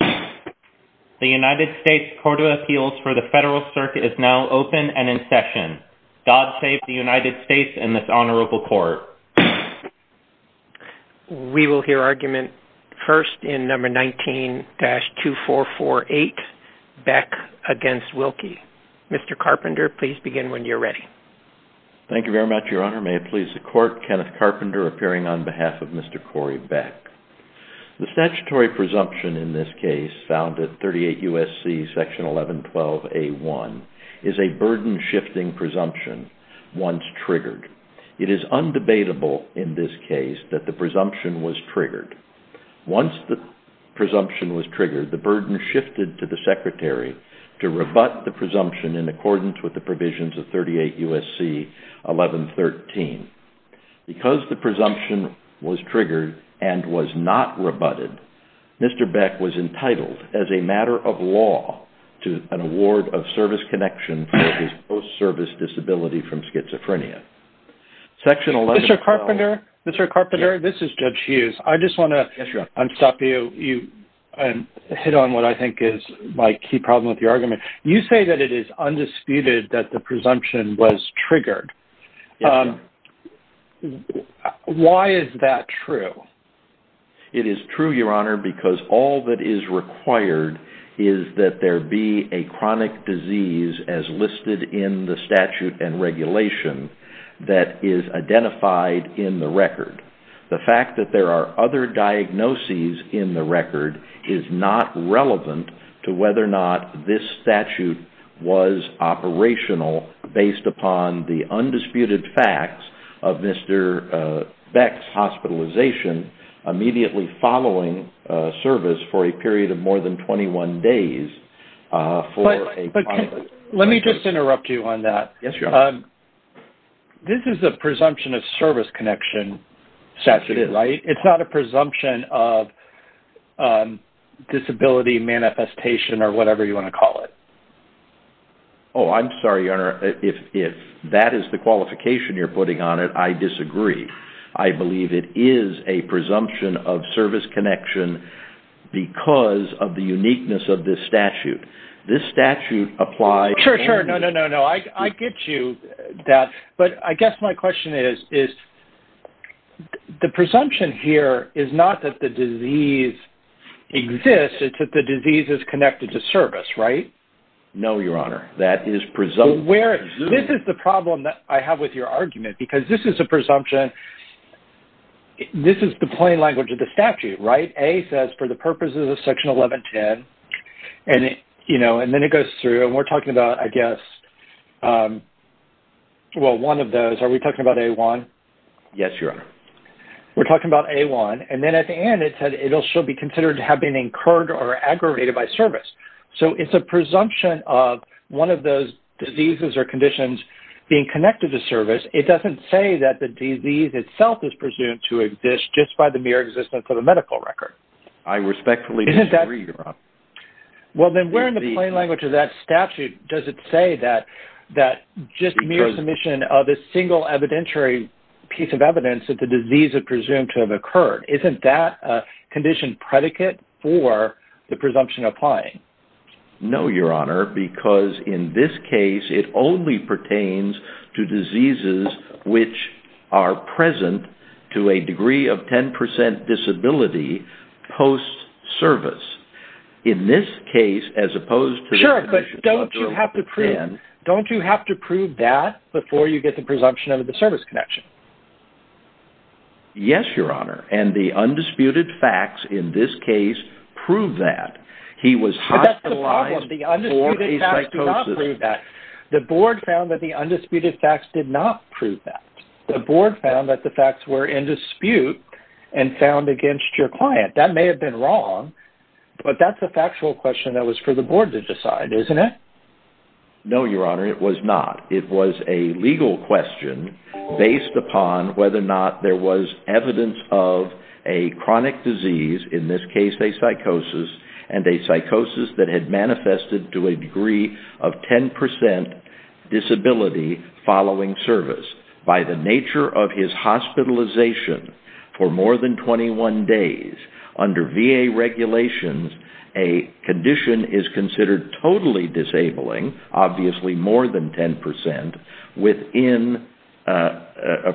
The United States Court of Appeals for the Federal Circuit is now open and in session. God save the United States and this honorable court. We will hear argument first in No. 19-2448, Beck v. Wilkie. Mr. Carpenter, please begin when you're ready. Thank you very much, Your Honor. May it please the Court, Kenneth Carpenter appearing on behalf of Mr. Corey Beck. The statutory presumption in this case found at 38 U.S.C. 1112A1 is a burden-shifting presumption once triggered. It is undebatable in this case that the presumption was triggered. Once the presumption was triggered, the burden shifted to the Secretary to rebut the presumption in accordance with the provisions of 38 U.S.C. 1113. Because the presumption was triggered and was not rebutted, Mr. Beck was entitled as a matter of law to an award of service connection for his post-service disability from schizophrenia. Mr. Carpenter, this is Judge Hughes. I just want to unstop you and hit on what I think is my key problem with your argument. You say that it is undisputed that the presumption was triggered. Why is that true? It is true, Your Honor, because all that is required is that there be a chronic disease as listed in the statute and regulation that is identified in the record. The fact that there are other diagnoses in the record is not relevant to whether or not this statute was operational based upon the undisputed facts of Mr. Beck's hospitalization immediately following service for a period of more than 21 days for a chronic disease. Let me just interrupt you on that. This is a presumption of service connection statute, right? Oh, I'm sorry, Your Honor, if that is the qualification you're putting on it, I disagree. I believe it is a presumption of service connection because of the uniqueness of this statute. This statute applies... Sure, sure. No, no, no, no. I get you that, but I guess my question is the presumption here is not that the disease exists. It's that the disease is connected to service, right? No, Your Honor, that is presumption. This is the problem that I have with your argument because this is a presumption. This is the plain language of the statute, right? A says for the purposes of Section 1110, and then it goes through, and we're talking about, I guess, well, one of those. Are we talking about A-1? Yes, Your Honor. We're talking about A-1. And then at the end, it said, it shall be considered to have been incurred or aggravated by service. So, it's a presumption of one of those diseases or conditions being connected to service. It doesn't say that the disease itself is presumed to exist just by the mere existence of the medical record. I respectfully disagree, Your Honor. Well, then where in the plain language of that statute does it say that just mere submission of a single evidentiary piece of evidence that the disease is presumed to have occurred? Isn't that a condition predicate for the presumption applying? No, Your Honor, because in this case, it only pertains to diseases which are present to a degree of 10% disability post-service. In this case, as opposed to the condition of 1110... So, you get the presumption of the service connection. Yes, Your Honor. And the undisputed facts in this case prove that. He was hospitalized for a psychosis. But that's the problem. The undisputed facts do not prove that. The board found that the undisputed facts did not prove that. The board found that the facts were in dispute and found against your client. That may have been wrong, but that's a factual question that was for the board to decide, isn't it? No, Your Honor, it was not. It was a legal question based upon whether or not there was evidence of a chronic disease, in this case a psychosis, and a psychosis that had manifested to a degree of 10% disability following service. By the nature of his hospitalization for more than 21 days, under VA regulations, a condition is considered totally disabling, obviously more than 10%,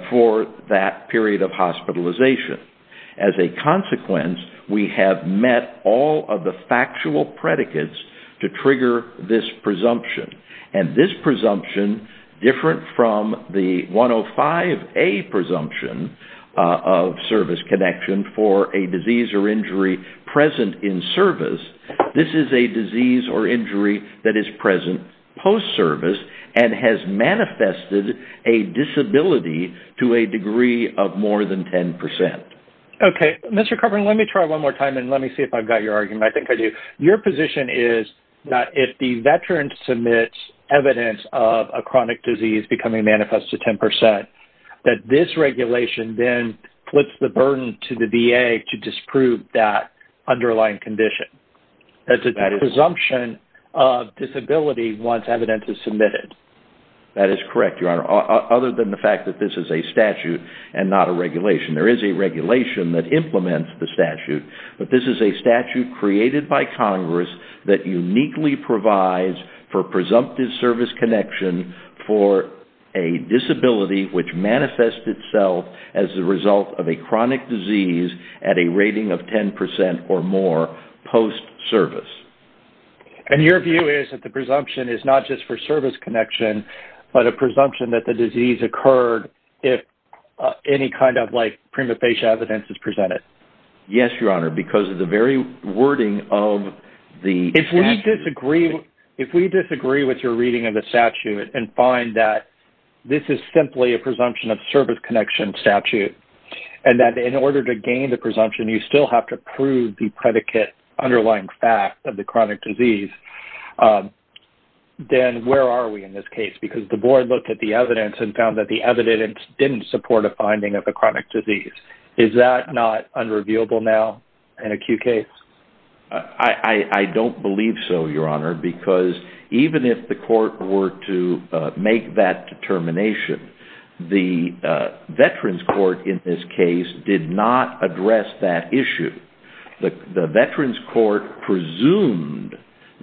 for that period of hospitalization. As a consequence, we have met all of the factual predicates to trigger this presumption. And this presumption, different from the 105A presumption of service connection for a disease or injury present in service, this is a disease or injury that is present post-service and has manifested a disability to a degree of more than 10%. Okay. Mr. Kovner, let me try one more time and let me see if I've got your argument. I think I do. Your position is that if the veteran submits evidence of a chronic disease becoming manifest to 10%, that this regulation then puts the burden to the VA to disprove that underlying condition. That's a presumption of disability once evidence is submitted. That is correct, Your Honor, other than the fact that this is a statute and not a regulation. There is a regulation that implements the statute, but this is a statute created by which manifests itself as a result of a chronic disease at a rating of 10% or more post-service. And your view is that the presumption is not just for service connection, but a presumption that the disease occurred if any kind of like prima facie evidence is presented? Yes, Your Honor, because of the very wording of the statute. If we disagree with your reading of the statute and find that this is simply a presumption of service connection statute, and that in order to gain the presumption, you still have to prove the predicate underlying fact of the chronic disease, then where are we in this case? Because the board looked at the evidence and found that the evidence didn't support a finding of a chronic disease. Is that not unrevealable now in a Q case? I don't believe so, Your Honor, because even if the court were to make that determination, the Veterans Court in this case did not address that issue. The Veterans Court presumed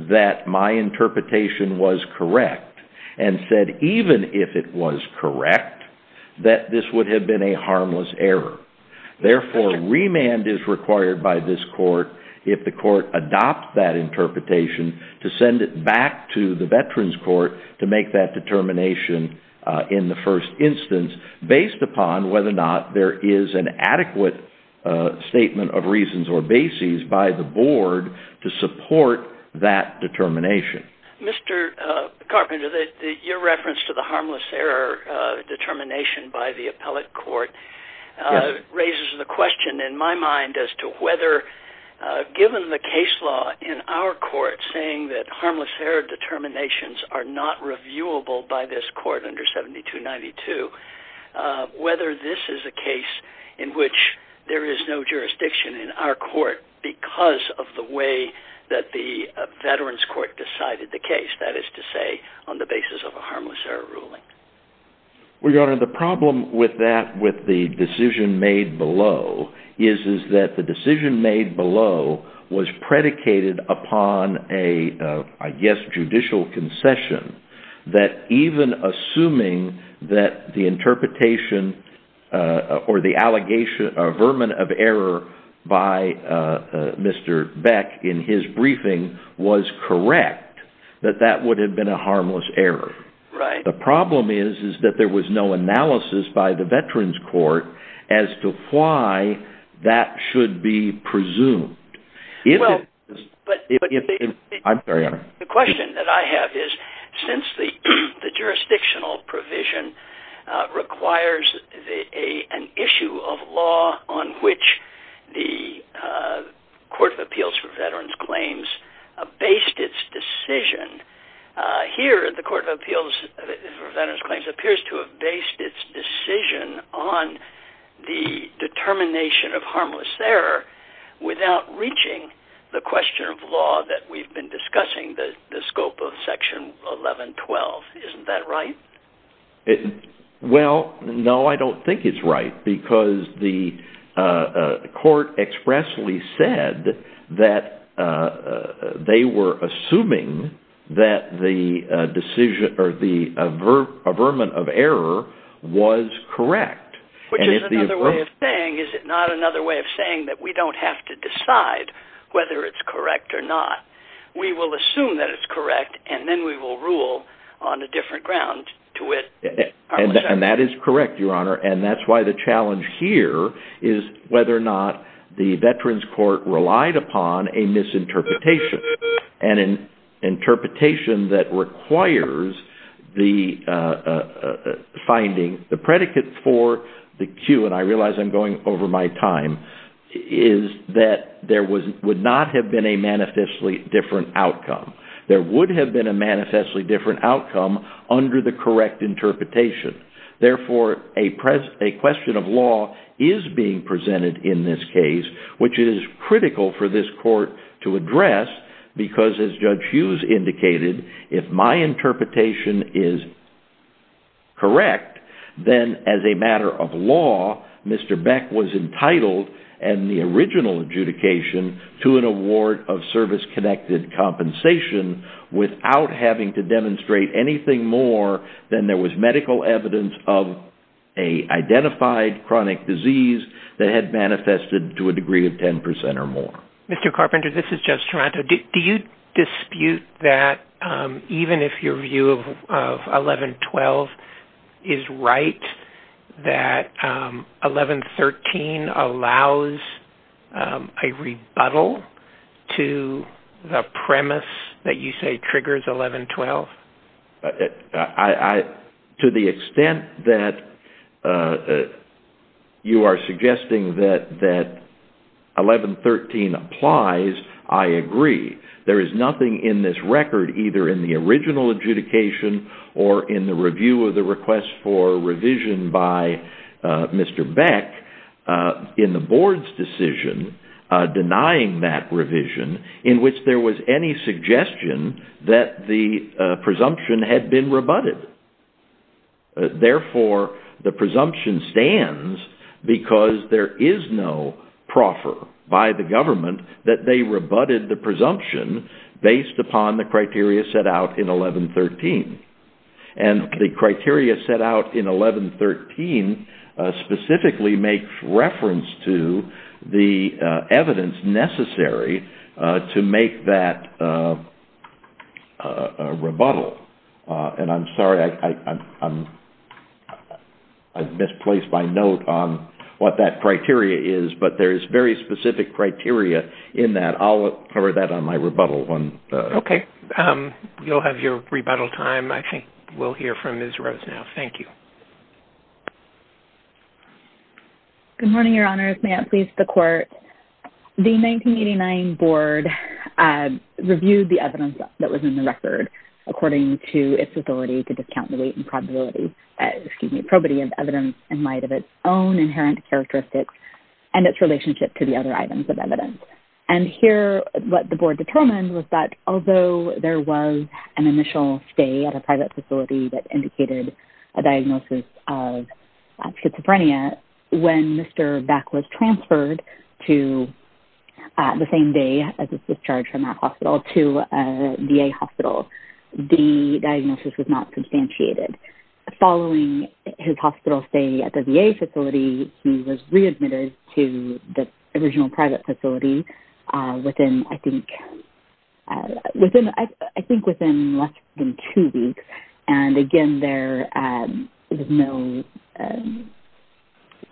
that my interpretation was correct and said even if it was correct that this would have been a harmless error. Therefore, remand is required by this court if the court adopts that interpretation to send it back to the Veterans Court to make that determination in the first instance based upon whether or not there is an adequate statement of reasons or bases by the board to support that determination. Mr. Carpenter, your reference to the harmless error determination by the appellate court raises the question in my mind as to whether, given the case law in our court saying that harmless error determinations are not reviewable by this court under 7292, whether this is a case in which there is no jurisdiction in our court because of the way that the Veterans Court decided the case, that is to say, on the basis of a harmless error ruling. Well, Your Honor, the problem with that, with the decision made below, is that the decision made below was predicated upon a, I guess, judicial concession that even assuming that the interpretation or the allegation or vermin of error by Mr. Beck in his briefing was correct, that that would have been a harmless error. Right. The problem is that there was no analysis by the Veterans Court as to why that should be presumed. I'm sorry, Your Honor. The question that I have is, since the jurisdictional provision requires an issue of law on which the Court of Appeals for Veterans Claims based its decision, here the Court of Appeals for Veterans Claims appears to have based its decision on the determination of harmless error without reaching the question of law that we've been discussing, the scope of Section 1112. Isn't that right? Well, no, I don't think it's right, because the court expressly said that they were assuming that the decision or the vermin of error was correct. Which is another way of saying, is it not another way of saying that we don't have to decide whether it's correct or not? We will assume that it's correct, and then we will rule on a different ground to which it's harmless error. And that is correct, Your Honor. And that's why the challenge here is whether or not the Veterans Court relied upon a misinterpretation. And an interpretation that requires the finding, the predicate for the cue, and I realize I'm going over my time, is that there would not have been a manifestly different outcome. There would have been a manifestly different outcome under the correct interpretation. Therefore, a question of law is being presented in this case, which is critical for this court to address, because as Judge Hughes indicated, if my interpretation is correct, then as a matter of fact, Beck was entitled, and the original adjudication, to an award of service-connected compensation without having to demonstrate anything more than there was medical evidence of an identified chronic disease that had manifested to a degree of 10% or more. Mr. Carpenter, this is Judge Toronto. Do you dispute that even if your view of 1112 is right, that 1113 allows a rebuttal to the premise that you say triggers 1112? To the extent that you are suggesting that 1113 applies, I agree. There is nothing in this record, either in the original adjudication or in the review of the request for revision by Mr. Beck, in the board's decision denying that revision, in which there was any suggestion that the presumption had been rebutted. Therefore, the presumption stands because there is no proffer by the government that they rebutted the presumption based upon the criteria set out in 1113. And the criteria set out in 1113 specifically makes reference to the evidence necessary to make that rebuttal. And I'm sorry, I've misplaced my note on what that criteria is, but there is very specific criteria in that. I'll cover that on my rebuttal. Okay. You'll have your rebuttal time. I think we'll hear from Ms. Rose now. Thank you. Good morning, Your Honors. May it please the Court. The 1989 board reviewed the evidence that was in the record according to its ability to discount the weight and probability, excuse me, probity of evidence in light of its own inherent characteristics and its relationship to the other items of evidence. And here, what the board determined was that although there was an initial stay at a private facility that indicated a diagnosis of schizophrenia, when Mr. Beck was transferred to the same day as his discharge from that hospital to a VA hospital, the diagnosis was not substantiated. Following his hospital stay at the VA facility, he was readmitted to the original private facility within, I think, within less than two weeks. And again, there was no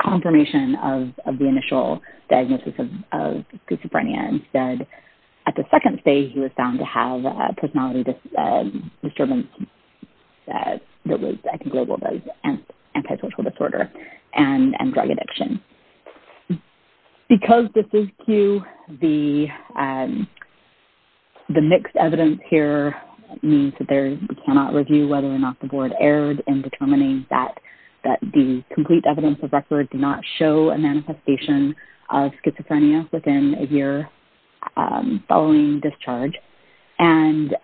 confirmation of the initial diagnosis of schizophrenia. Instead, at the second stay, he was found to have a personality disturbance that was, I think, labeled as antisocial disorder and drug addiction. Because this is Q, the mixed evidence here means that we cannot review whether or not the board erred in determining that the complete evidence of record did not show a manifestation of schizophrenia within a year following discharge. And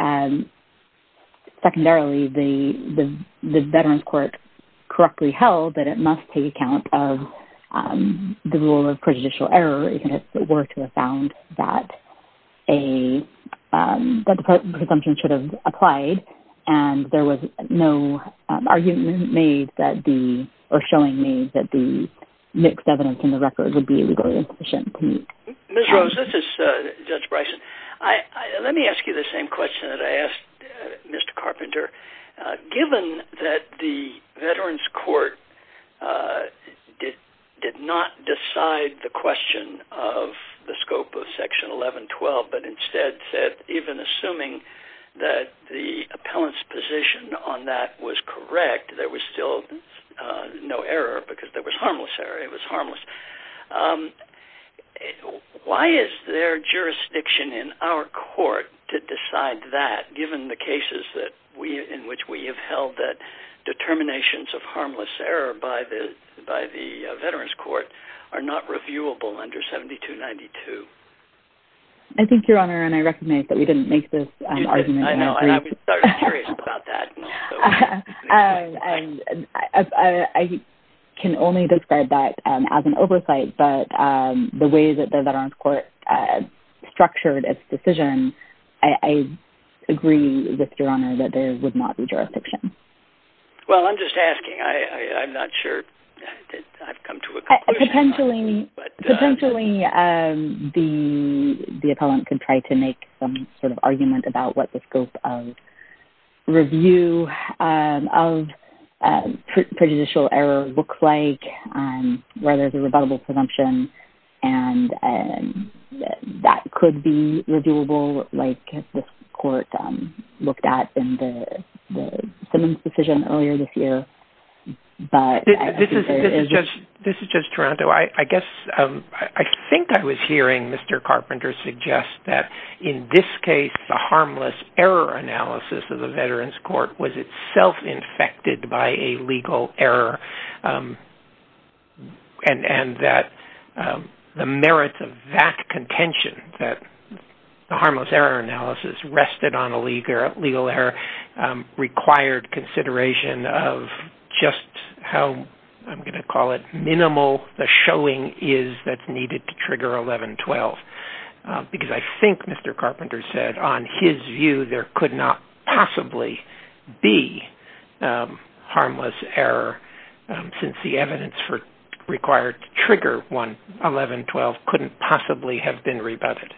secondarily, the Veterans' Court correctly held that it must take account of the rule of prejudicial error if it were to have found that the presumption should have applied. And there was no argument made that the, or showing made, that the mixed evidence in the record would be legally insufficient to meet. Ms. Rose, this is Judge Bryson. Let me ask you the same question that I asked Mr. Carpenter. Given that the Veterans' Court did not decide the question of the scope of Section 1112, but instead said, even assuming that the appellant's position on that was correct, there was still no error, because there was harmless error, it was harmless, why is there jurisdiction in our court to decide that, given the cases in which we have held that determinations of harmless error by the Veterans' Court are not reviewable under 7292? I think, Your Honor, and I recognize that we didn't make this argument. I know, and I was curious about that. I can only describe that as an oversight, but the way that the Veterans' Court structured its decision, I agree with Your Honor that there would not be jurisdiction. Well, I'm just asking, I'm not sure that I've come to a conclusion. Potentially, the appellant could try to make some sort of argument about what the scope of review of prejudicial error looks like, where there's a rebuttable presumption, and that could be reviewable, like this court looked at in the Simmons decision earlier this year, but I think there is... This is Judge Taranto. I guess, I think I was hearing Mr. Carpenter suggest that, in this case, the harmless error analysis of the Veterans' Court was itself infected by a legal error, and that the merits of that contention, that the harmless error analysis rested on a legal error, required consideration of just how, I'm going to call it, minimal the showing is that's needed to trigger 1112, because I think Mr. Carpenter said, on his view, there could not possibly be harmless error, since the evidence required to trigger 1112 couldn't possibly be harmless. It couldn't possibly have been rebutted.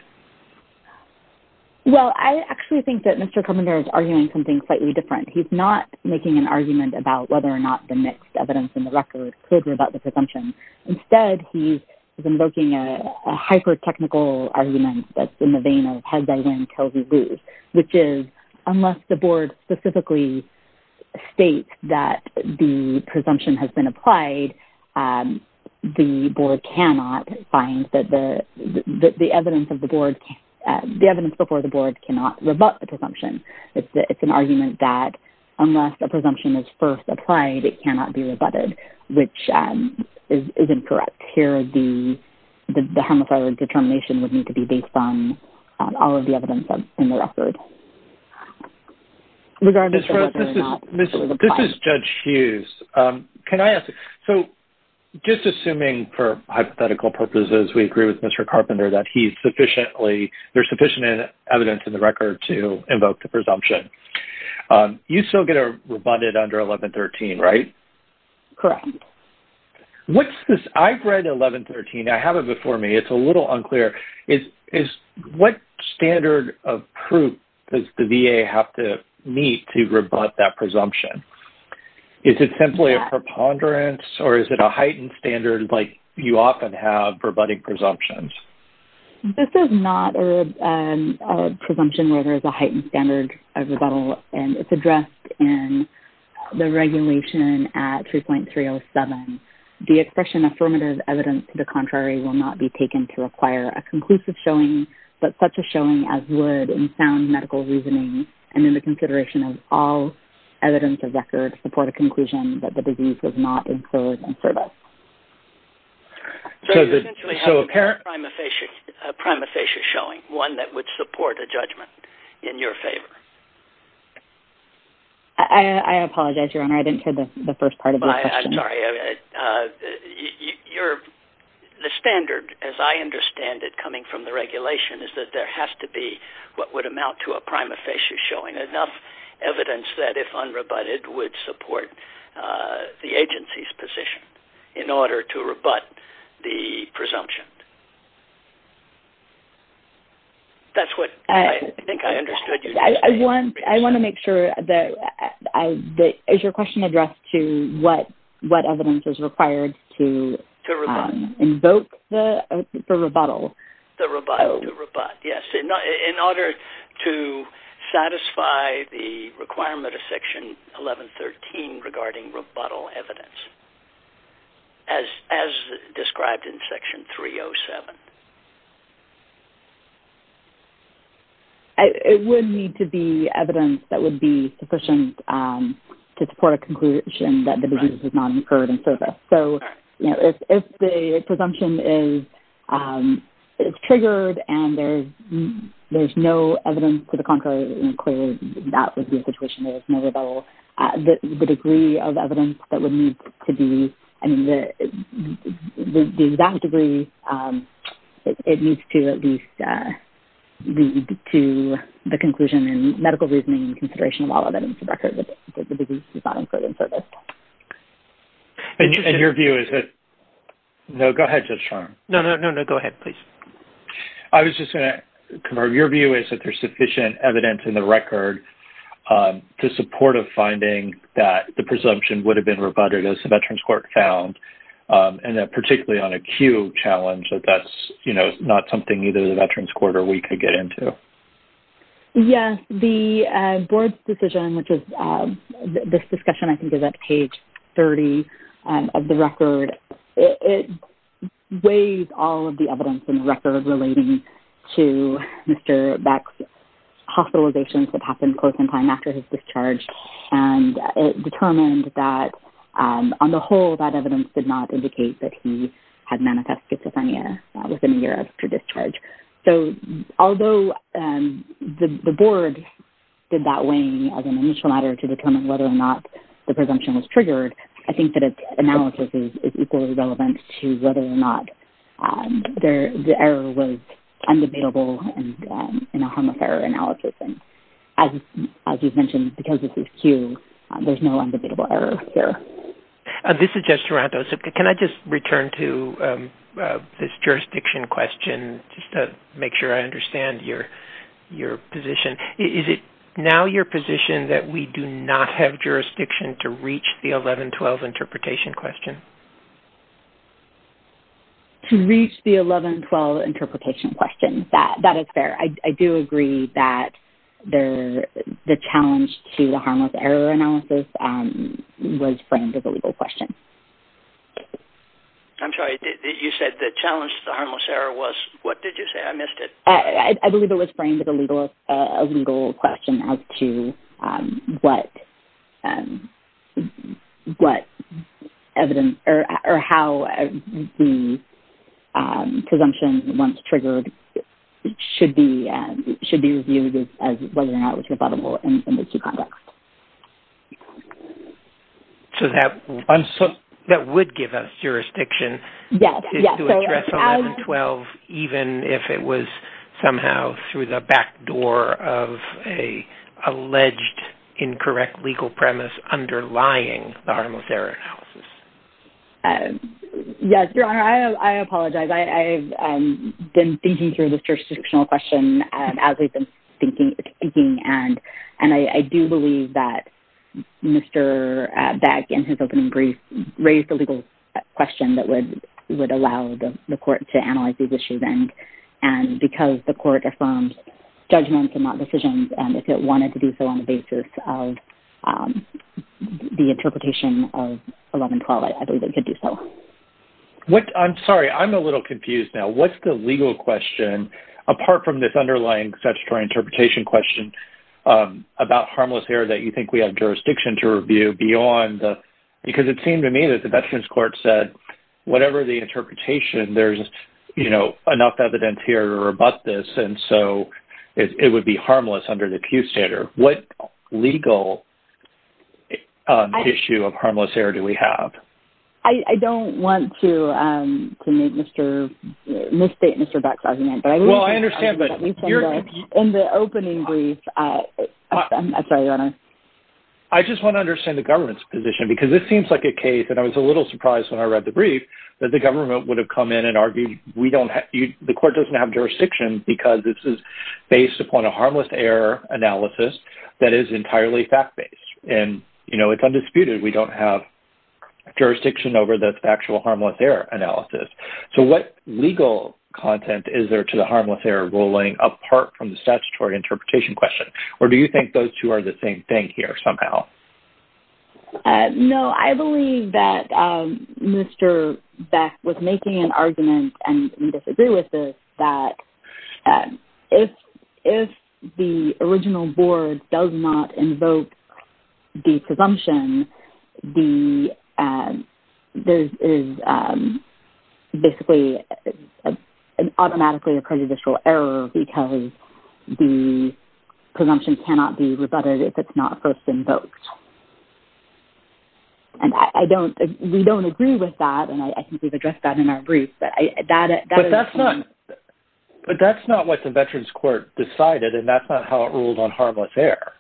Well, I actually think that Mr. Carpenter is arguing something slightly different. He's not making an argument about whether or not the mixed evidence in the record could rebut the presumption. Instead, he's invoking a hyper-technical argument that's in the vein of head by win, tail by lose, which is, unless the board specifically states that the presumption has been applied, the board cannot find that the evidence of the board, the evidence before the board cannot rebut the presumption. It's an argument that, unless a presumption is first applied, it cannot be rebutted, which is incorrect. Here, the harmless error determination would need to be based on all of the evidence in the record. Ms. Rose, this is Judge Hughes. Can I ask? So, just assuming, for hypothetical purposes, we agree with Mr. Carpenter that there's sufficient evidence in the record to invoke the presumption, you still get a rebutted under 1113, right? Correct. What's this? I've read 1113. I have it before me. It's a little unclear. What standard of proof does the VA have to meet to rebut that presumption? Is it simply a preponderance, or is it a heightened standard like you often have for rebutting presumptions? This is not a presumption where there's a heightened standard of rebuttal, and it's addressed in the regulation at 3.307. The expression, affirmative evidence to the contrary, will not be taken to require a conclusive showing, but such a showing as would, in sound medical reasoning and in the consideration of all evidence of record, support a conclusion that the disease was not incurred in service. So, you essentially have a primifacious showing, one that would support a judgment in your favor. I apologize, Your Honor. I didn't hear the first part of your question. I'm sorry. The standard, as I understand it, coming from the regulation, is that there has to be what would amount to a primifacious showing, enough evidence that, if unrebutted, would support the agency's position in order to rebut the presumption. That's what I think I understood. I want to make sure that, is your question addressed to what evidence is required to invoke the rebuttal? The rebuttal, yes. In order to satisfy the requirement of Section 1113 regarding rebuttal evidence, as described in Section 307. It would need to be evidence that would be sufficient to support a conclusion that the disease was not incurred in service. So, if the presumption is triggered and there's no evidence to the contrary, clearly that would be a situation where there's no rebuttal. The degree of evidence that would need to be, I mean, the exact degree, it needs to at least lead to the conclusion in medical reasoning and consideration of all evidence of record that the disease was not incurred in service. And your view is that... No, go ahead, Judge Sharma. No, no, no. Go ahead, please. I was just going to confirm, your view is that there's sufficient evidence in the record to support a finding that the presumption would have been rebutted as the Veterans Court found, and that particularly on a Q challenge, that that's not something either the Veterans Court or we could get into. Yes. The board's decision, which is this discussion I think is at page 30 of the record, it weighs all of the evidence in the record relating to Mr. Beck's hospitalizations that happened close in time after his discharge, and it determined that on the whole, that evidence did not indicate that he had manifest schizophrenia within a year after discharge. So, although the board did that weighing as an initial matter to determine whether or not the presumption was triggered, I think that its analysis is equally relevant to whether or not the error was undebatable in a harmless error analysis. And as you've mentioned, because this is Q, there's no undebatable error here. This is Judge Taranto. So, can I just return to this jurisdiction question, just to make sure I understand your position? Is it now your position that we do not have jurisdiction to reach the 1112 interpretation question? To reach the 1112 interpretation question, that is fair. I do agree that the challenge to the harmless error analysis was framed as a legal question. I'm sorry. You said the challenge to the harmless error was, what did you say? I missed it. I believe it was framed as a legal question as to what evidence or how the presumption once triggered should be reviewed as whether or not it was debatable in the two contexts. So, that would give us jurisdiction. Yes. To address 1112, even if it was somehow through the back door of an alleged incorrect legal premise underlying the harmless error analysis. Yes, Your Honor. I apologize. I've been thinking through this jurisdictional question as we've been speaking, and I do believe that Mr. Beck, in his opening brief, raised a legal question that would allow the court to analyze these issues, and because the court affirmed judgments and not decisions, and if it wanted to do so on the basis of the interpretation of 1112, I believe it could do so. I'm sorry. I'm a little confused now. What's the legal question, apart from this underlying statutory interpretation question, about harmless error that you think we have jurisdiction to review beyond the... Because it seemed to me that the Veterans Court said, whatever the interpretation, there's enough evidence here to rebut this, and so it would be harmless under the Pew standard. What legal issue of harmless error do we have? I don't want to misstate Mr. Beck's argument. Well, I understand, but... In the opening brief... I'm sorry, Your Honor. I just want to understand the government's position, because this seems like a case, and I was a little surprised when I read the brief, that the government would have come in and argued the court doesn't have jurisdiction because this is based upon a harmless error analysis that is entirely fact-based, and it's undisputed. We don't have jurisdiction over the factual harmless error analysis. So what legal content is there to the harmless error ruling, apart from the statutory interpretation question? Or do you think those two are the same thing here, somehow? No. I believe that Mr. Beck was making an argument, and we disagree with this, that if the original board does not invoke the presumption, there is basically automatically a prejudicial error because the presumption cannot be rebutted if it's not first invoked. We don't agree with that, and I think we've addressed that in our brief, but that is... But that's not what the Veterans Court decided, and that's not how it rules on harmless error,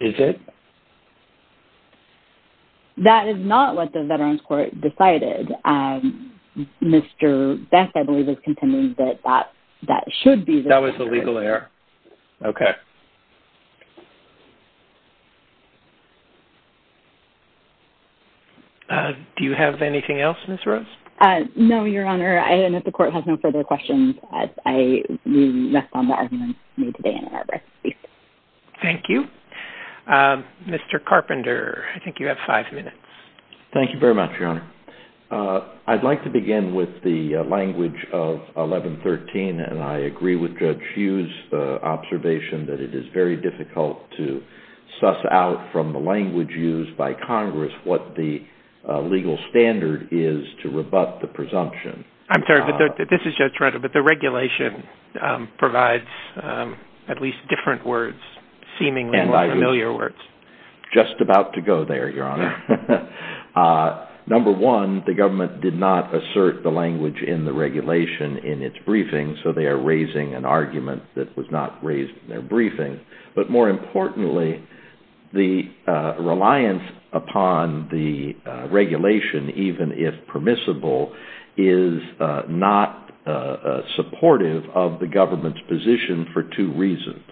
is it? That is not what the Veterans Court decided. Mr. Beck, I believe, is contending that that should be the case. That was a legal error. Okay. Do you have anything else, Ms. Rose? No, Your Honor. I don't know if the Court has no further questions as we rest on the arguments made today in our brief. Thank you. Mr. Carpenter, I think you have five minutes. Thank you very much, Your Honor. I'd like to begin with the language of 1113, and I agree with Judge Hughes' observation that it is very difficult to suss out from the language used by Congress what the legal standard is to rebut the presumption. I'm sorry, but this is Judge Rutter, but the regulation provides at least different words, seemingly familiar words. Just about to go there, Your Honor. Number one, the government did not assert the language in the regulation in its briefing, so they are raising an argument that was not raised in their briefing. But more importantly, the reliance upon the regulation, even if permissible, is not supportive of the government's position for two reasons.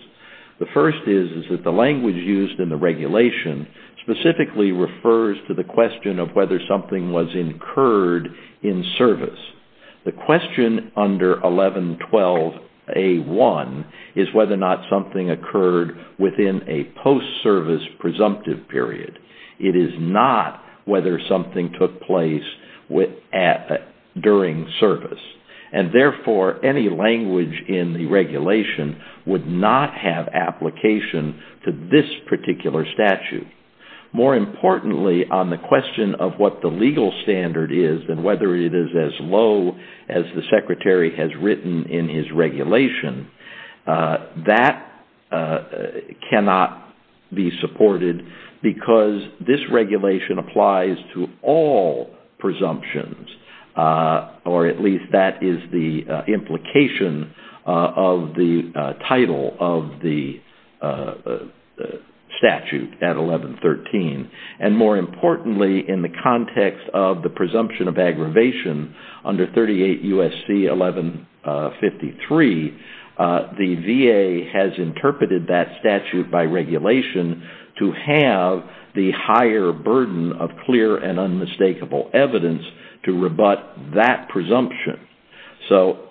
The first is that the language used in the regulation specifically refers to the question of whether something was incurred in service. The question under 1112A1 is whether or not something occurred within a post-service presumptive period. It is not whether something took place during service. And therefore, any language in the regulation would not have application to this particular statute. More importantly, on the question of what the legal standard is and whether it is as low as the Secretary has written in his regulation, that cannot be supported because this regulation And more importantly, in the context of the presumption of aggravation under 38 U.S.C. 1153, the VA has interpreted that statute by regulation to have the higher burden of clear and unmistakable evidence to rebut that presumption. Mr.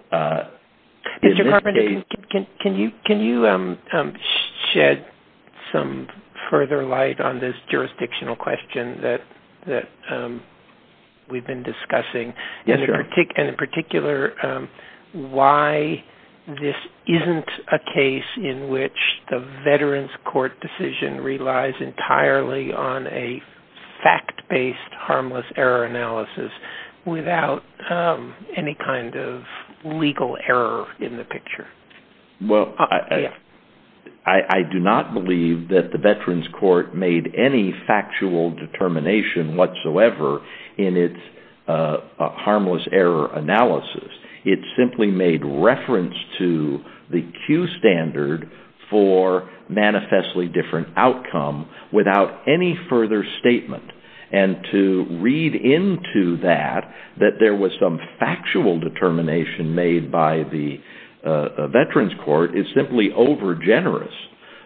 Carman, can you shed some further light on this jurisdictional question that we've been discussing? And in particular, why this isn't a case in which the Veterans Court decision relies entirely on a fact-based harmless error analysis without any kind of legal error in the picture? Well, I do not believe that the Veterans Court made any factual determination whatsoever in its harmless error analysis. It simply made reference to the Q standard for manifestly different outcome without any further statement. And to read into that that there was some factual determination made by the Veterans Court is simply over generous.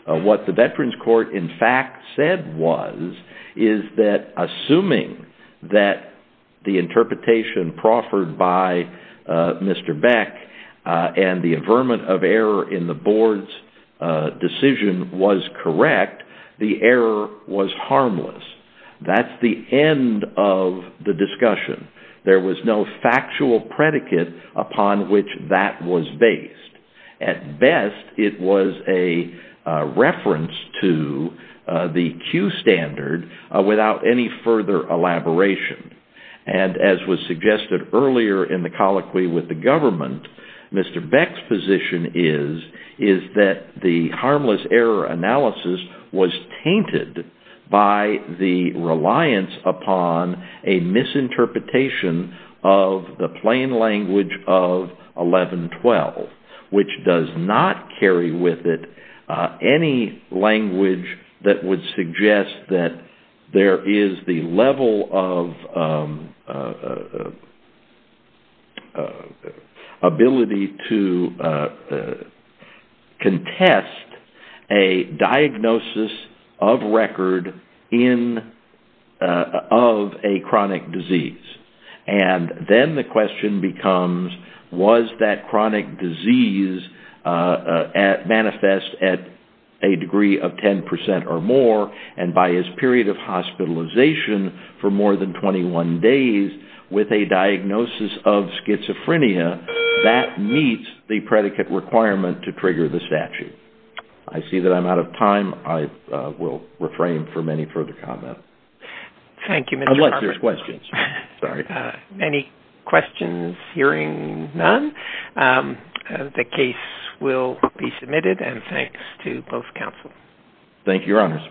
What the Veterans Court in fact said was, is that assuming that the interpretation proffered by Mr. Beck and the averment of error in the board's decision was correct, the error was harmless. That's the end of the discussion. There was no factual predicate upon which that was based. At best, it was a reference to the Q standard without any further elaboration. And as was suggested earlier in the colloquy with the government, Mr. Beck's position is that the harmless error analysis was tainted by the reliance upon a misinterpretation of the plain language of 1112, which does not carry with it any language that would suggest that there is the level of ability to contest a diagnosis of record of a chronic disease. And then the question becomes, was that chronic disease manifest at a degree of 10% or more, and by his period of hospitalization for more than 21 days with a diagnosis of schizophrenia, that meets the predicate requirement to trigger the statute. I see that I'm out of time. I will refrain from any further comment. Thank you, Mr. Harbert. Unless there's questions. Sorry. Any questions? Hearing none, the case will be submitted, and thanks to both counsel. Thank you, Your Honors.